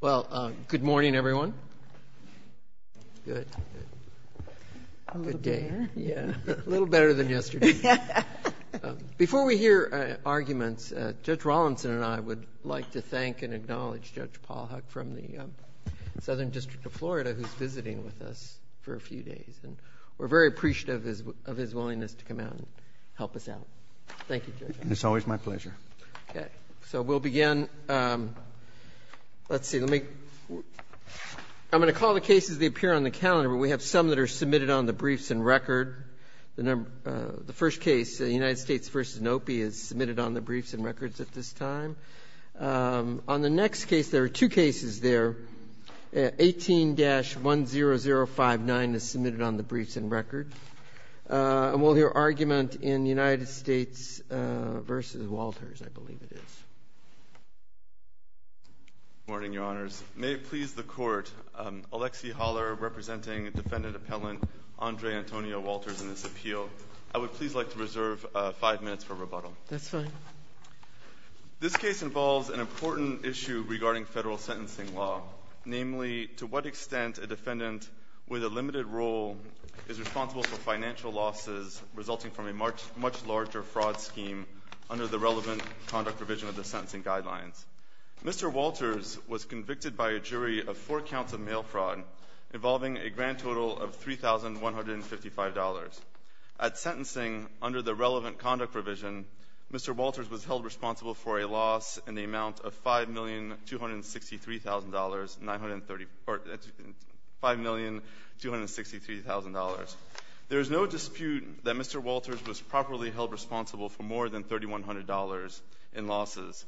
Well, good morning, everyone. Good. Good day. A little better. Yeah, a little better than yesterday. Before we hear arguments, Judge Rawlinson and I would like to thank and acknowledge Judge Paul Huck from the Southern District of Florida, who's visiting with us for a few days. And we're very appreciative of his willingness to come out and help us out. Thank you, Judge. It's always my pleasure. So we'll begin. Let's see. I'm going to call the cases that appear on the calendar, but we have some that are submitted on the briefs and record. The first case, the United States v. NOPI, is submitted on the briefs and records at this time. On the next case, there are two cases there. 18-10059 is submitted on the briefs and record. And we'll hear argument in United States v. Walters, I believe it is. Good morning, Your Honors. May it please the Court, Alexi Haller representing Defendant Appellant Andre Antonio Walters in this appeal. I would please like to reserve five minutes for rebuttal. That's fine. This case involves an important issue regarding federal sentencing law, namely to what extent a defendant with a limited role is responsible for financial losses resulting from a much larger fraud scheme under the relevant conduct provision of the sentencing guidelines. Mr. Walters was convicted by a jury of four counts of mail fraud involving a grand total of $3,155. At sentencing, under the relevant conduct provision, Mr. Walters was held responsible for a loss in the amount of $5,263,000. There is no dispute that Mr. Walters was properly held responsible for more than $3,100 in losses.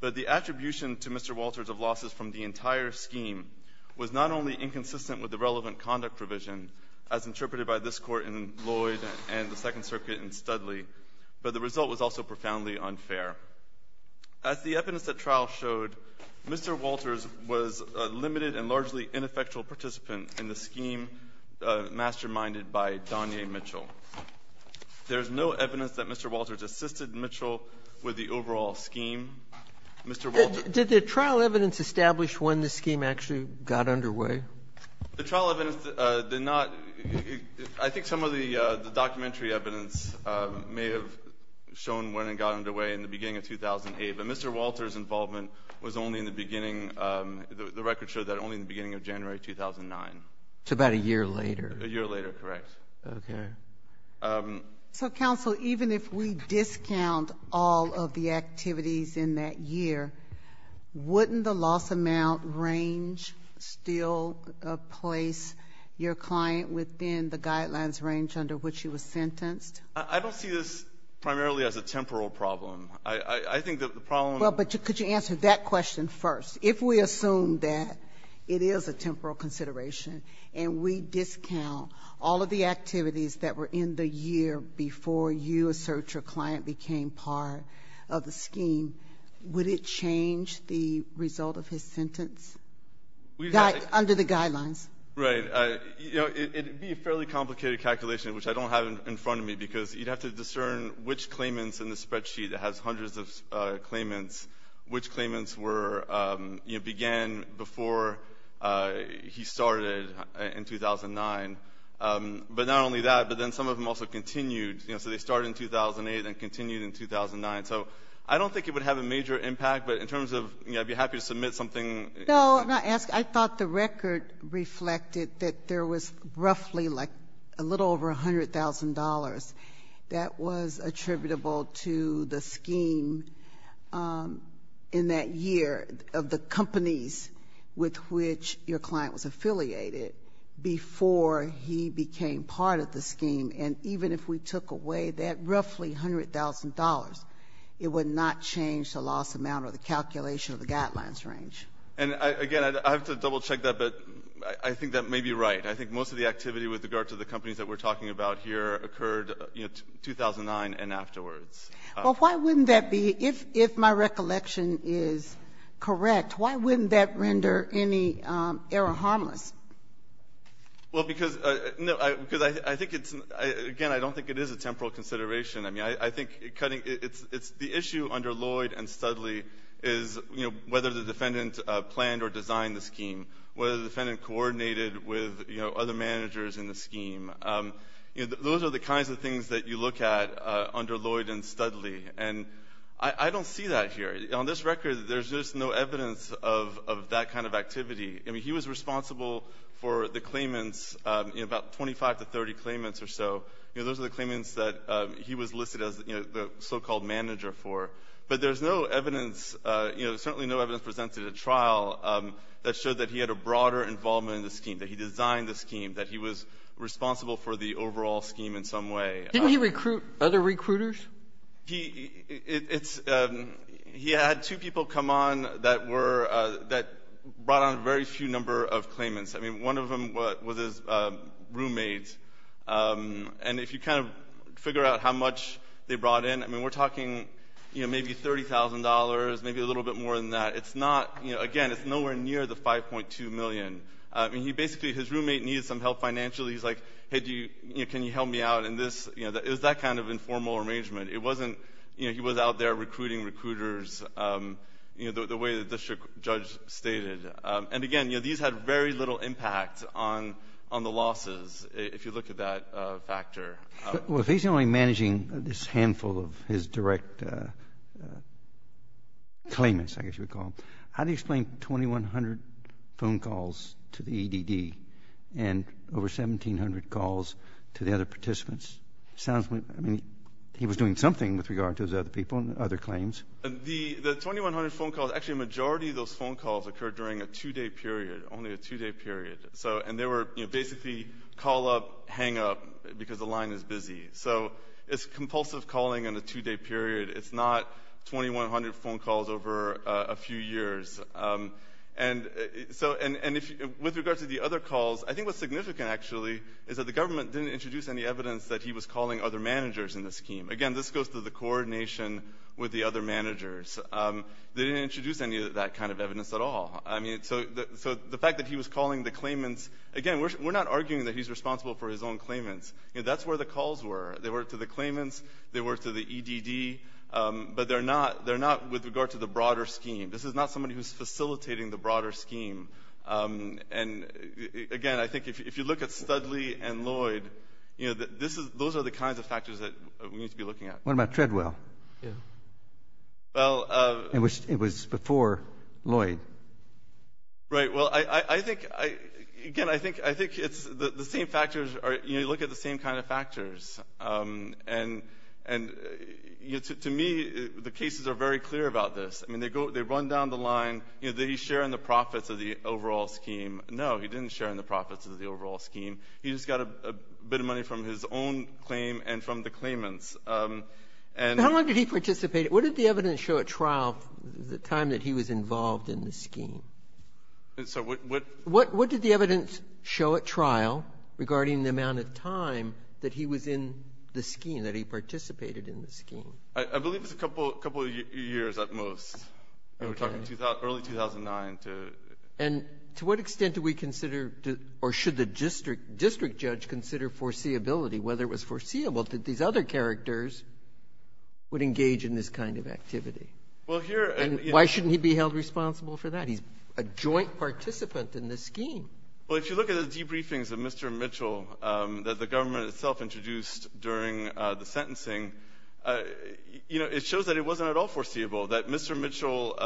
But the attribution to Mr. Walters of losses from the entire scheme was not only inconsistent with the relevant conduct provision, as interpreted by this Court in Lloyd and the Second Circuit in Studley, but the result was also profoundly unfair. As the evidence at trial showed, Mr. Walters was a limited and largely ineffectual participant in the scheme masterminded by Donye Mitchell. There is no evidence that Mr. Walters assisted Mitchell with the overall scheme. Mr. Walters — The trial evidence did not — I think some of the documentary evidence may have shown when it got underway in the beginning of 2008, but Mr. Walters' involvement was only in the beginning — the record showed that only in the beginning of January 2009. It's about a year later. A year later, correct. Okay. So, counsel, even if we discount all of the activities in that year, wouldn't the loss amount range still place your client within the guidelines range under which he was sentenced? I don't see this primarily as a temporal problem. I think that the problem — Well, but could you answer that question first? If we assume that it is a temporal consideration and we discount all of the activities that were in the year before you assert your client became part of the scheme, would it change the result of his sentence under the guidelines? Right. You know, it would be a fairly complicated calculation, which I don't have in front of me, because you'd have to discern which claimants in the spreadsheet that has hundreds of claimants, which claimants were — you know, began before he started in 2009. But not only that, but then some of them also continued. You know, so they started in 2008 and continued in 2009. So I don't think it would have a major impact, but in terms of, you know, I'd be happy to submit something. No, I thought the record reflected that there was roughly like a little over $100,000 that was attributable to the scheme in that year of the companies with which your client was affiliated before he became part of the scheme. And even if we took away that roughly $100,000, it would not change the loss amount or the calculation of the guidelines range. And, again, I have to double-check that, but I think that may be right. I think most of the activity with regard to the companies that we're talking about here occurred, you know, 2009 and afterwards. Well, why wouldn't that be — if my recollection is correct, why wouldn't that render any error harmless? Well, because I think it's — again, I don't think it is a temporal consideration. I mean, I think the issue under Lloyd and Studley is, you know, whether the defendant planned or designed the scheme, whether the defendant coordinated with, you know, other managers in the scheme. Those are the kinds of things that you look at under Lloyd and Studley. And I don't see that here. On this record, there's just no evidence of that kind of activity. I mean, he was responsible for the claimants, you know, about 25 to 30 claimants or so. You know, those are the claimants that he was listed as the so-called manager for. But there's no evidence — you know, there's certainly no evidence presented at trial that showed that he had a broader involvement in the scheme, that he designed the scheme, that he was responsible for the overall scheme in some way. Didn't he recruit other recruiters? He — it's — he had two people come on that were — that brought on a very few number of claimants. I mean, one of them was his roommate. And if you kind of figure out how much they brought in, I mean, we're talking, you know, maybe $30,000, maybe a little bit more than that. It's not — you know, again, it's nowhere near the $5.2 million. I mean, he basically — his roommate needed some help financially. He's like, hey, do you — you know, can you help me out in this? You know, it was that kind of informal arrangement. It wasn't — you know, he was out there recruiting recruiters, you know, the way that the judge stated. And again, you know, these had very little impact on the losses, if you look at that factor. Well, if he's only managing this handful of his direct claimants, I guess you would call them, How do you explain 2,100 phone calls to the EDD and over 1,700 calls to the other participants? Sounds like — I mean, he was doing something with regard to his other people and other claims. The 2,100 phone calls — actually, a majority of those phone calls occurred during a two-day period, only a two-day period. So — and they were, you know, basically call up, hang up because the line is busy. So it's compulsive calling in a two-day period. It's not 2,100 phone calls over a few years. And so — and with regard to the other calls, I think what's significant, actually, is that the government didn't introduce any evidence that he was calling other managers in the scheme. Again, this goes to the coordination with the other managers. They didn't introduce any of that kind of evidence at all. I mean, so the fact that he was calling the claimants — again, we're not arguing that he's responsible for his own claimants. You know, that's where the calls were. They were to the claimants. They were to the EDD. But they're not with regard to the broader scheme. This is not somebody who's facilitating the broader scheme. And, again, I think if you look at Studley and Lloyd, you know, those are the kinds of factors that we need to be looking at. What about Treadwell? Yeah. Well — It was before Lloyd. Right. Well, I think — again, I think it's the same factors are — you know, you look at the same kind of factors. And to me, the cases are very clear about this. I mean, they run down the line. You know, did he share in the profits of the overall scheme? No, he didn't share in the profits of the overall scheme. He just got a bit of money from his own claim and from the claimants. And — How long did he participate? What did the evidence show at trial the time that he was involved in the scheme? So what — What did the evidence show at trial regarding the amount of time that he was in the scheme, that he participated in the scheme? I believe it was a couple of years at most. We're talking early 2009 to — And to what extent do we consider or should the district judge consider foreseeability, whether it was foreseeable that these other characters would engage in this kind of activity? Well, here — And why shouldn't he be held responsible for that? He's a joint participant in this scheme. Well, if you look at the debriefings of Mr. Mitchell that the government itself introduced during the sentencing, you know, it shows that it wasn't at all foreseeable, that Mr. Mitchell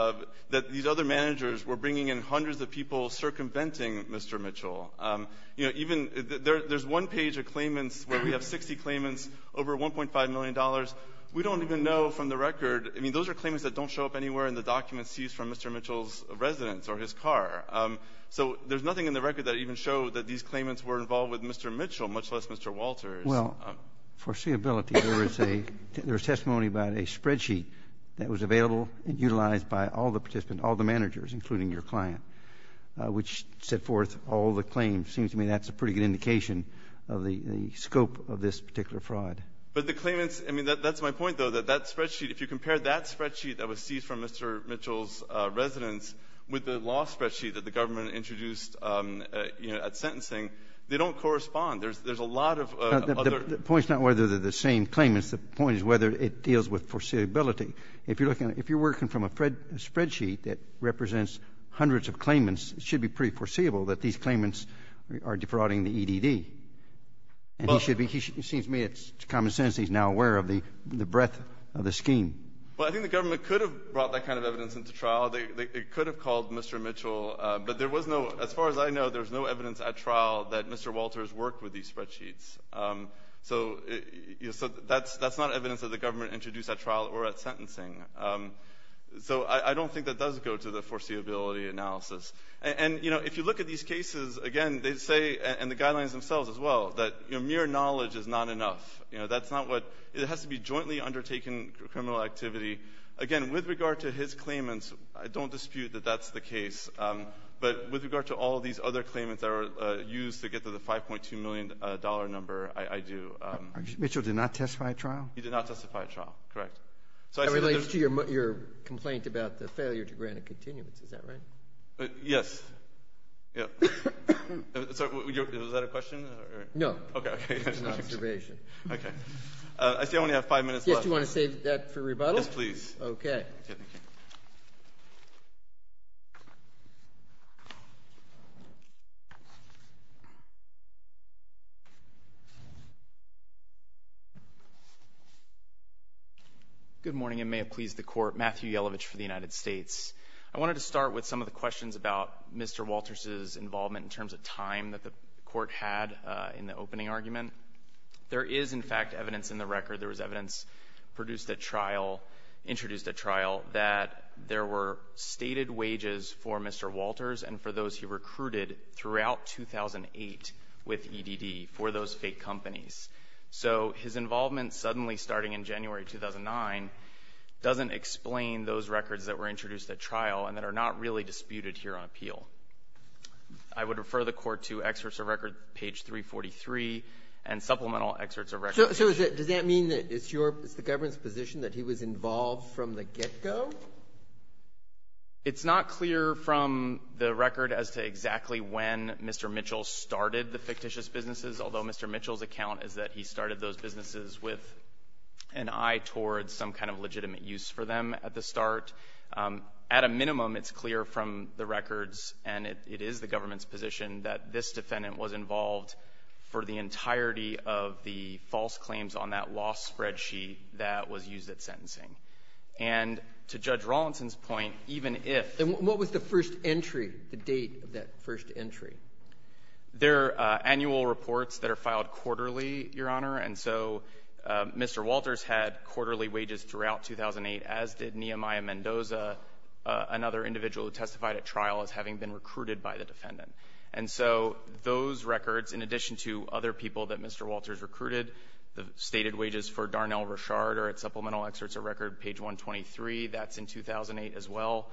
— that these other managers were bringing in hundreds of people circumventing Mr. Mitchell. You know, even — There's one page of claimants where we have 60 claimants, over $1.5 million. We don't even know from the record — I mean, those are claimants that don't show up anywhere in the documents seized from Mr. Mitchell's residence or his car. So there's nothing in the record that even showed that these claimants were involved with Mr. Mitchell, much less Mr. Walters. Well, foreseeability, there was a — There was testimony about a spreadsheet that was available and utilized by all the participants, all the managers, including your client, which set forth all the claims. It seems to me that's a pretty good indication of the scope of this particular fraud. But the claimants — I mean, that's my point, though, that that spreadsheet, if you compare that spreadsheet that was seized from Mr. Mitchell's residence with the law spreadsheet that the government introduced, you know, at sentencing, they don't correspond. There's a lot of other — The point is not whether they're the same claimants. The point is whether it deals with foreseeability. If you're looking — if you're working from a spreadsheet that represents hundreds of claimants, it should be pretty foreseeable that these claimants are defrauding the EDD. And he should be — it seems to me it's common sense that he's now aware of the breadth of the scheme. Well, I think the government could have brought that kind of evidence into trial. They could have called Mr. Mitchell. But there was no — as far as I know, there was no evidence at trial that Mr. Walters worked with these spreadsheets. So that's not evidence that the government introduced at trial or at sentencing. So I don't think that does go to the foreseeability analysis. And, you know, if you look at these cases, again, they say, and the guidelines themselves as well, that mere knowledge is not enough. You know, that's not what — it has to be jointly undertaken criminal activity. Again, with regard to his claimants, I don't dispute that that's the case. But with regard to all of these other claimants that were used to get to the $5.2 million number, I do. Mitchell did not testify at trial? He did not testify at trial, correct. That relates to your complaint about the failure to grant a continuance. Is that right? Yes. Is that a question? No. Okay. It's an observation. Okay. I see I only have five minutes left. Yes. Do you want to save that for rebuttal? Yes, please. Okay. Thank you. Good morning, and may it please the Court. Matthew Yelovich for the United States. I wanted to start with some of the questions about Mr. Walters' involvement in terms of time that the Court had in the opening argument. There is, in fact, evidence in the record. There was evidence produced at trial, introduced at trial, that there were stated wages for Mr. Walters and for those he recruited throughout 2008 with EDD for those fake companies. So his involvement suddenly starting in January 2009 doesn't explain those records that were introduced at trial and that are not really disputed here on appeal. I would refer the Court to excerpts of record, page 343, and supplemental excerpts of record. So does that mean that it's your – it's the government's position that he was involved from the get-go? It's not clear from the record as to exactly when Mr. Mitchell started the fictitious businesses, although Mr. Mitchell's account is that he started those businesses with an eye towards some kind of legitimate use for them at the start. At a minimum, it's clear from the records, and it is the government's position, that this defendant was involved for the entirety of the false claims on that law spreadsheet that was used at sentencing. And to Judge Rawlinson's point, even if – And what was the first entry, the date of that first entry? They're annual reports that are filed quarterly, Your Honor. And so Mr. Walters had quarterly wages throughout 2008, as did Nehemiah Mendoza, And so those records, in addition to other people that Mr. Walters recruited, the stated wages for Darnell Rashard are at supplemental excerpts of record, page 123. That's in 2008 as well.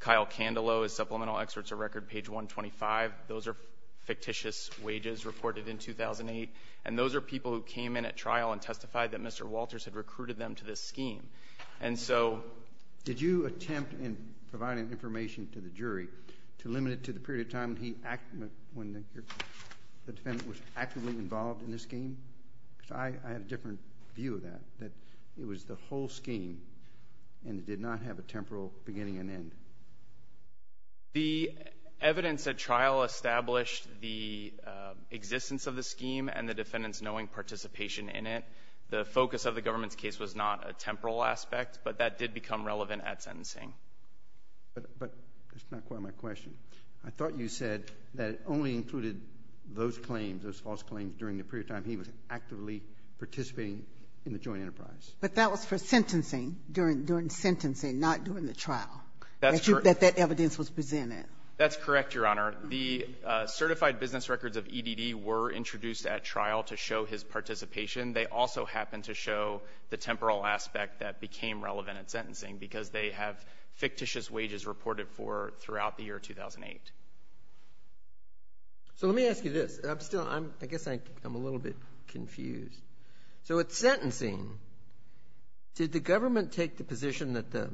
Kyle Candelo is supplemental excerpts of record, page 125. Those are fictitious wages reported in 2008, and those are people who came in at trial and testified that Mr. Walters had recruited them to this scheme. And so did you attempt in providing information to the jury to limit it to the period of time when the defendant was actively involved in this scheme? Because I had a different view of that, that it was the whole scheme and it did not have a temporal beginning and end. The evidence at trial established the existence of the scheme and the defendant's knowing participation in it. The focus of the government's case was not a temporal aspect, but that did become relevant at sentencing. But that's not quite my question. I thought you said that it only included those claims, those false claims, during the period of time he was actively participating in the joint enterprise. But that was for sentencing, during sentencing, not during the trial. That's correct. That evidence was presented. That's correct, Your Honor. The certified business records of EDD were introduced at trial to show his participation. They also happened to show the temporal aspect that became relevant at sentencing because they have fictitious wages reported for throughout the year 2008. So let me ask you this. I'm still, I guess I'm a little bit confused. So at sentencing, did the government take the position that the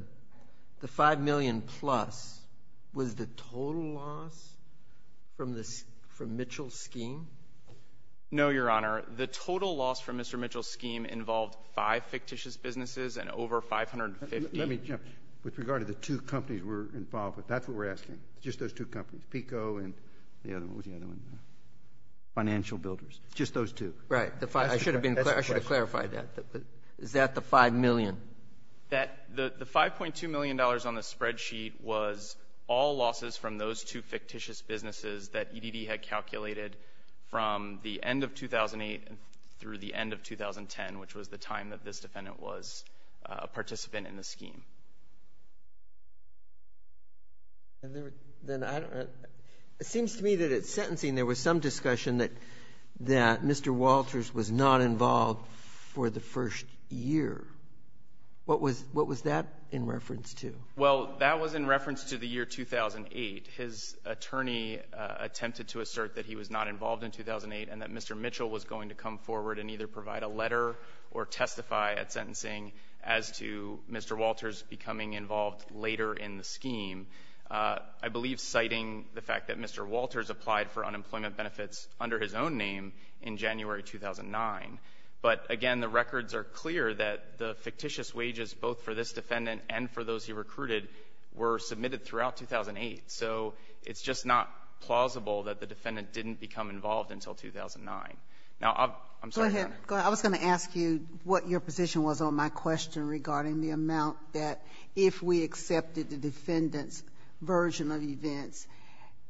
$5 million plus was the total loss from Mitchell's scheme? No, Your Honor. The total loss from Mr. Mitchell's scheme involved five fictitious businesses and over 550. Let me jump. With regard to the two companies we're involved with, that's what we're asking, just those two companies, PICO and the other one. What was the other one? Financial Builders. Just those two. Right. I should have been clear. I should have clarified that. Is that the $5 million? The $5.2 million on the spreadsheet was all losses from those two fictitious businesses that EDD had calculated from the end of 2008 through the end of 2010, which was the time that this defendant was a participant in the scheme. Then I don't know. It seems to me that at sentencing there was some discussion that Mr. Walters was not involved for the first year. What was that in reference to? Well, that was in reference to the year 2008. His attorney attempted to assert that he was not involved in 2008 and that Mr. Mitchell was going to come forward and either provide a letter or testify at sentencing as to Mr. Walters becoming involved later in the scheme. I believe citing the fact that Mr. Walters applied for unemployment benefits under his own name in January 2009. But, again, the records are clear that the fictitious wages both for this defendant and for those he recruited were submitted throughout 2008. So it's just not plausible that the defendant didn't become involved until 2009. Now, I'm sorry, Your Honor. Go ahead. I was going to ask you what your position was on my question regarding the amount that if we accepted the defendant's version of events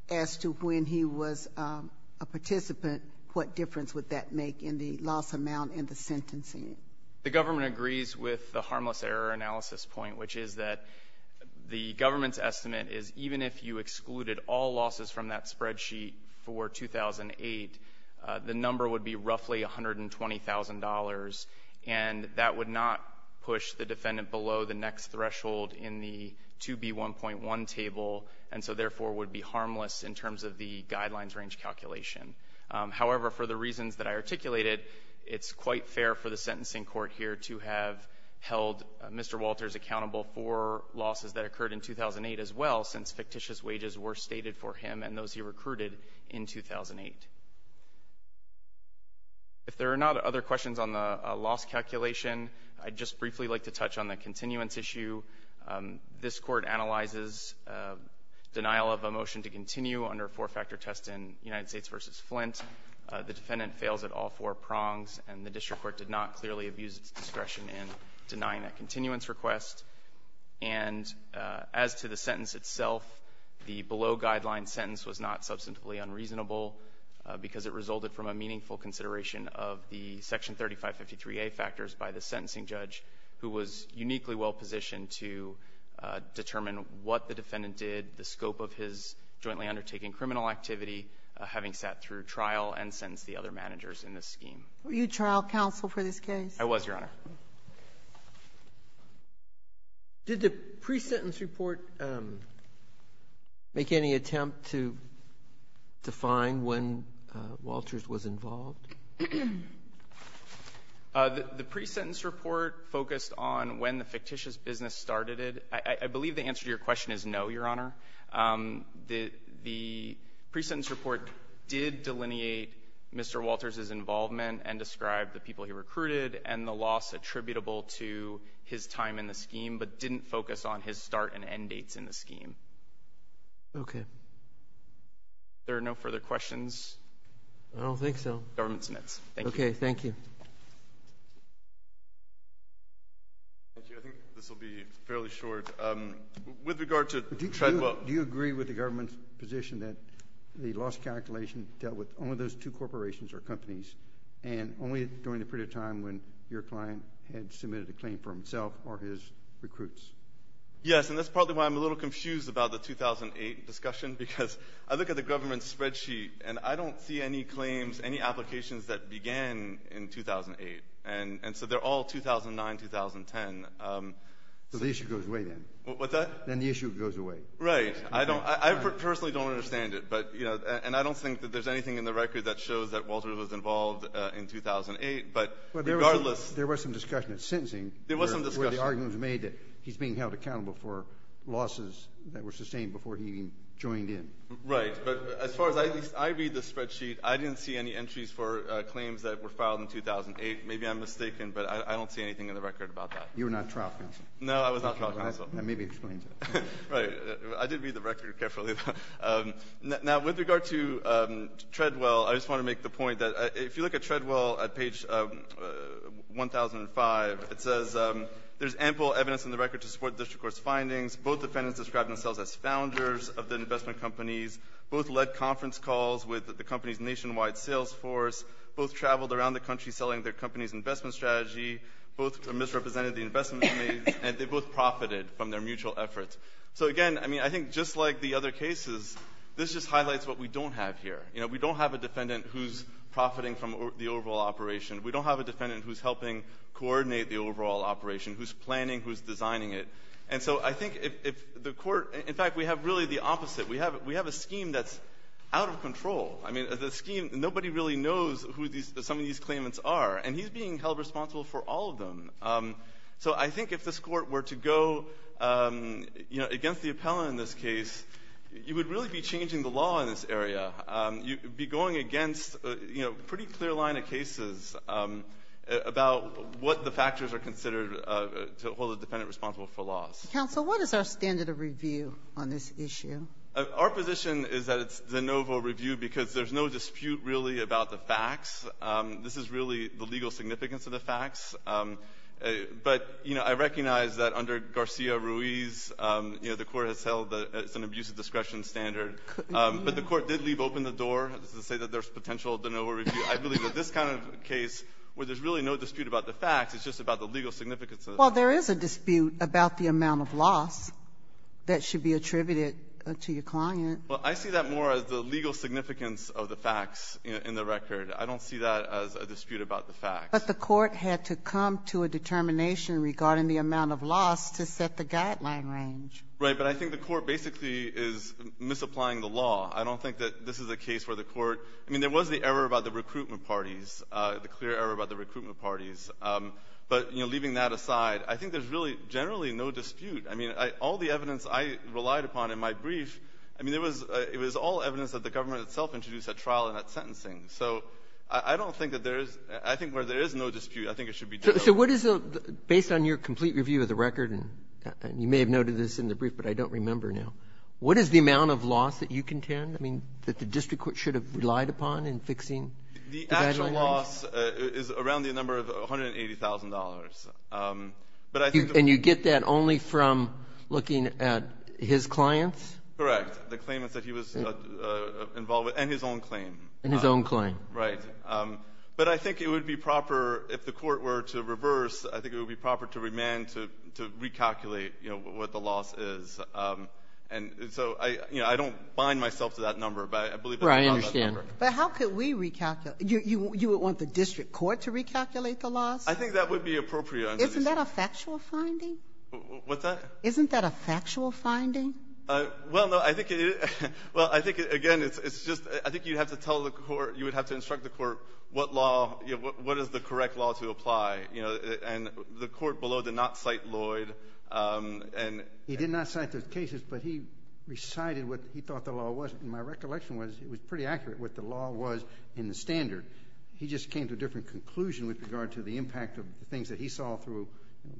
as to when he was a participant, what difference would that make in the loss amount and the sentencing? The government agrees with the harmless error analysis point, which is that the government's argument is even if you excluded all losses from that spreadsheet for 2008, the number would be roughly $120,000, and that would not push the defendant below the next threshold in the 2B1.1 table, and so therefore would be harmless in terms of the guidelines range calculation. However, for the reasons that I articulated, it's quite fair for the sentencing court here to have held Mr. Walters accountable for losses that occurred in 2008 as well, since fictitious wages were stated for him and those he recruited in 2008. If there are not other questions on the loss calculation, I'd just briefly like to touch on the continuance issue. This Court analyzes denial of a motion to continue under a four-factor test in United States v. Flint. The defendant fails at all four prongs, and the district court did not clearly abuse its discretion in denying that continuance request. And as to the sentence itself, the below-guideline sentence was not substantively unreasonable, because it resulted from a meaningful consideration of the Section 3553a factors by the sentencing judge, who was uniquely well-positioned to determine what the defendant did, the scope of his jointly undertaking criminal activity, having sat through trial and sentenced the other managers in the scheme. Sotomayor, were you trial counsel for this case? I was, Your Honor. Did the pre-sentence report make any attempt to define when Walters was involved? The pre-sentence report focused on when the fictitious business started it. I believe the answer to your question is no, Your Honor. The pre-sentence report did delineate Mr. Walters' involvement and describe the people he recruited and the loss attributable to his time in the scheme, but didn't focus on his start and end dates in the scheme. Okay. Are there no further questions? I don't think so. The government submits. Thank you. Thank you. Thank you. I think this will be fairly short. With regard to Treadwell. Do you agree with the government's position that the loss calculation dealt with only those two corporations or companies and only during the period of time when your client had submitted a claim for himself or his recruits? Yes, and that's probably why I'm a little confused about the 2008 discussion, because I look at the government's spreadsheet, and I don't see any claims, any applications that began in 2008. And so they're all 2009, 2010. So the issue goes away then. What's that? Then the issue goes away. Right. I personally don't understand it, and I don't think that there's anything in the record that shows that Walters was involved in 2008, but regardless. There was some discussion at sentencing. There was some discussion. Where the argument was made that he's being held accountable for losses that were sustained before he even joined in. Right. But as far as I read the spreadsheet, I didn't see any entries for claims that were filed in 2008. Maybe I'm mistaken, but I don't see anything in the record about that. You were not trial counsel. No, I was not trial counsel. That maybe explains it. Right. I did read the record carefully, though. Now, with regard to Treadwell, I just want to make the point that if you look at Treadwell at page 1005, it says there's ample evidence in the record to support the district court's findings. Both defendants described themselves as founders of the investment companies. Both led conference calls with the company's nationwide sales force. Both traveled around the country selling their company's investment strategy. Both misrepresented the investment companies. And they both profited from their mutual efforts. So, again, I mean, I think just like the other cases, this just highlights what we don't have here. You know, we don't have a defendant who's profiting from the overall operation. We don't have a defendant who's helping coordinate the overall operation, who's planning, who's designing it. And so I think if the court — in fact, we have really the opposite. We have a scheme that's out of control. I mean, the scheme — nobody really knows who some of these claimants are. And he's being held responsible for all of them. So I think if this court were to go, you know, against the appellant in this case, you would really be changing the law in this area. You'd be going against, you know, a pretty clear line of cases about what the factors are considered to hold a defendant responsible for loss. Counsel, what is our standard of review on this issue? Our position is that it's de novo review because there's no dispute really about the facts. This is really the legal significance of the facts. But, you know, I recognize that under Garcia-Ruiz, you know, the court has held that it's an abuse of discretion standard. But the court did leave open the door to say that there's potential de novo review. I believe that this kind of case, where there's really no dispute about the facts, it's just about the legal significance of the facts. Well, there is a dispute about the amount of loss that should be attributed to your client. Well, I see that more as the legal significance of the facts in the record. I don't see that as a dispute about the facts. But the court had to come to a determination regarding the amount of loss to set the guideline range. Right. But I think the court basically is misapplying the law. I don't think that this is a case where the court — I mean, there was the error about the recruitment parties, the clear error about the recruitment parties. But, you know, leaving that aside, I think there's really generally no dispute. I mean, all the evidence I relied upon in my brief, I mean, it was all evidence that the government itself introduced at trial and at sentencing. So I don't think that there is — I think where there is no dispute, I think it should be dealt with. So what is the — based on your complete review of the record, and you may have noted this in the brief, but I don't remember now, what is the amount of loss that you contend, I mean, that the district court should have relied upon in fixing the guideline range? The actual loss is around the number of $180,000. But I think the — And you get that only from looking at his clients? Correct. The claimants that he was involved with, and his own claim. And his own claim. Right. But I think it would be proper, if the court were to reverse, I think it would be proper to remand to recalculate, you know, what the loss is. And so, you know, I don't bind myself to that number, but I believe that's about that number. Right. I understand. But how could we recalculate? You would want the district court to recalculate the loss? I think that would be appropriate. Isn't that a factual finding? What's that? Isn't that a factual finding? Well, no. I think it is. Well, I think, again, it's just — I think you'd have to tell the court — you would have to instruct the court what law — you know, what is the correct law to apply. You know, and the court below did not cite Lloyd. And — He did not cite those cases, but he recited what he thought the law was. And my recollection was, it was pretty accurate what the law was in the standard. He just came to a different conclusion with regard to the impact of the things that he saw through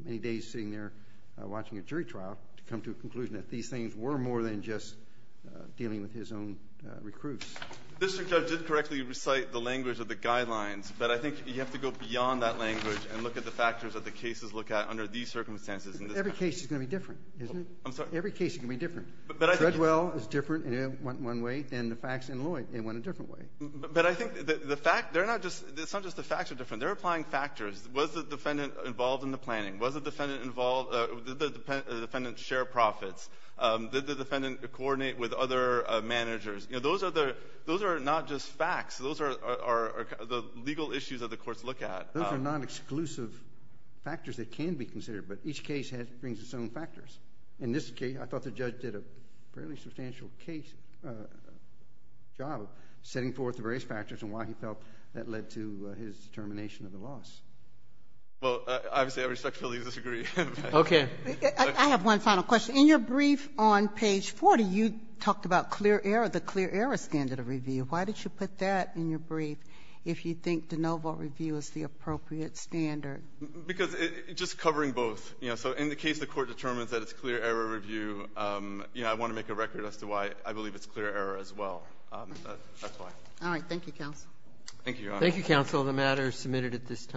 many days sitting there watching a jury trial to come to a conclusion that these things were more than just dealing with his own recruits. The district judge did correctly recite the language of the guidelines, but I think you have to go beyond that language and look at the factors that the cases look at under these circumstances. Every case is going to be different, isn't it? I'm sorry? Every case is going to be different. But I think — Dredwell is different in one way than the facts in Lloyd. They went a different way. But I think the fact — they're not just — it's not just the facts are different. They're applying factors. Was the defendant involved in the planning? Was the defendant involved — did the defendant share profits? Did the defendant coordinate with other managers? You know, those are the — those are not just facts. Those are the legal issues that the courts look at. Those are non-exclusive factors that can be considered. But each case brings its own factors. In this case, I thought the judge did a fairly substantial case — job of setting forth the various factors and why he felt that led to his determination of the loss. Well, obviously, I respectfully disagree. Okay. I have one final question. In your brief on page 40, you talked about clear error, the clear error standard of review. Why did you put that in your brief if you think de novo review is the appropriate standard? Because it — just covering both. You know, so in the case the Court determines that it's clear error review, you know, I want to make a record as to why I believe it's clear error as well. That's why. All right. Thank you, counsel. Thank you, Your Honor. Thank you, counsel. The matter is submitted at this time.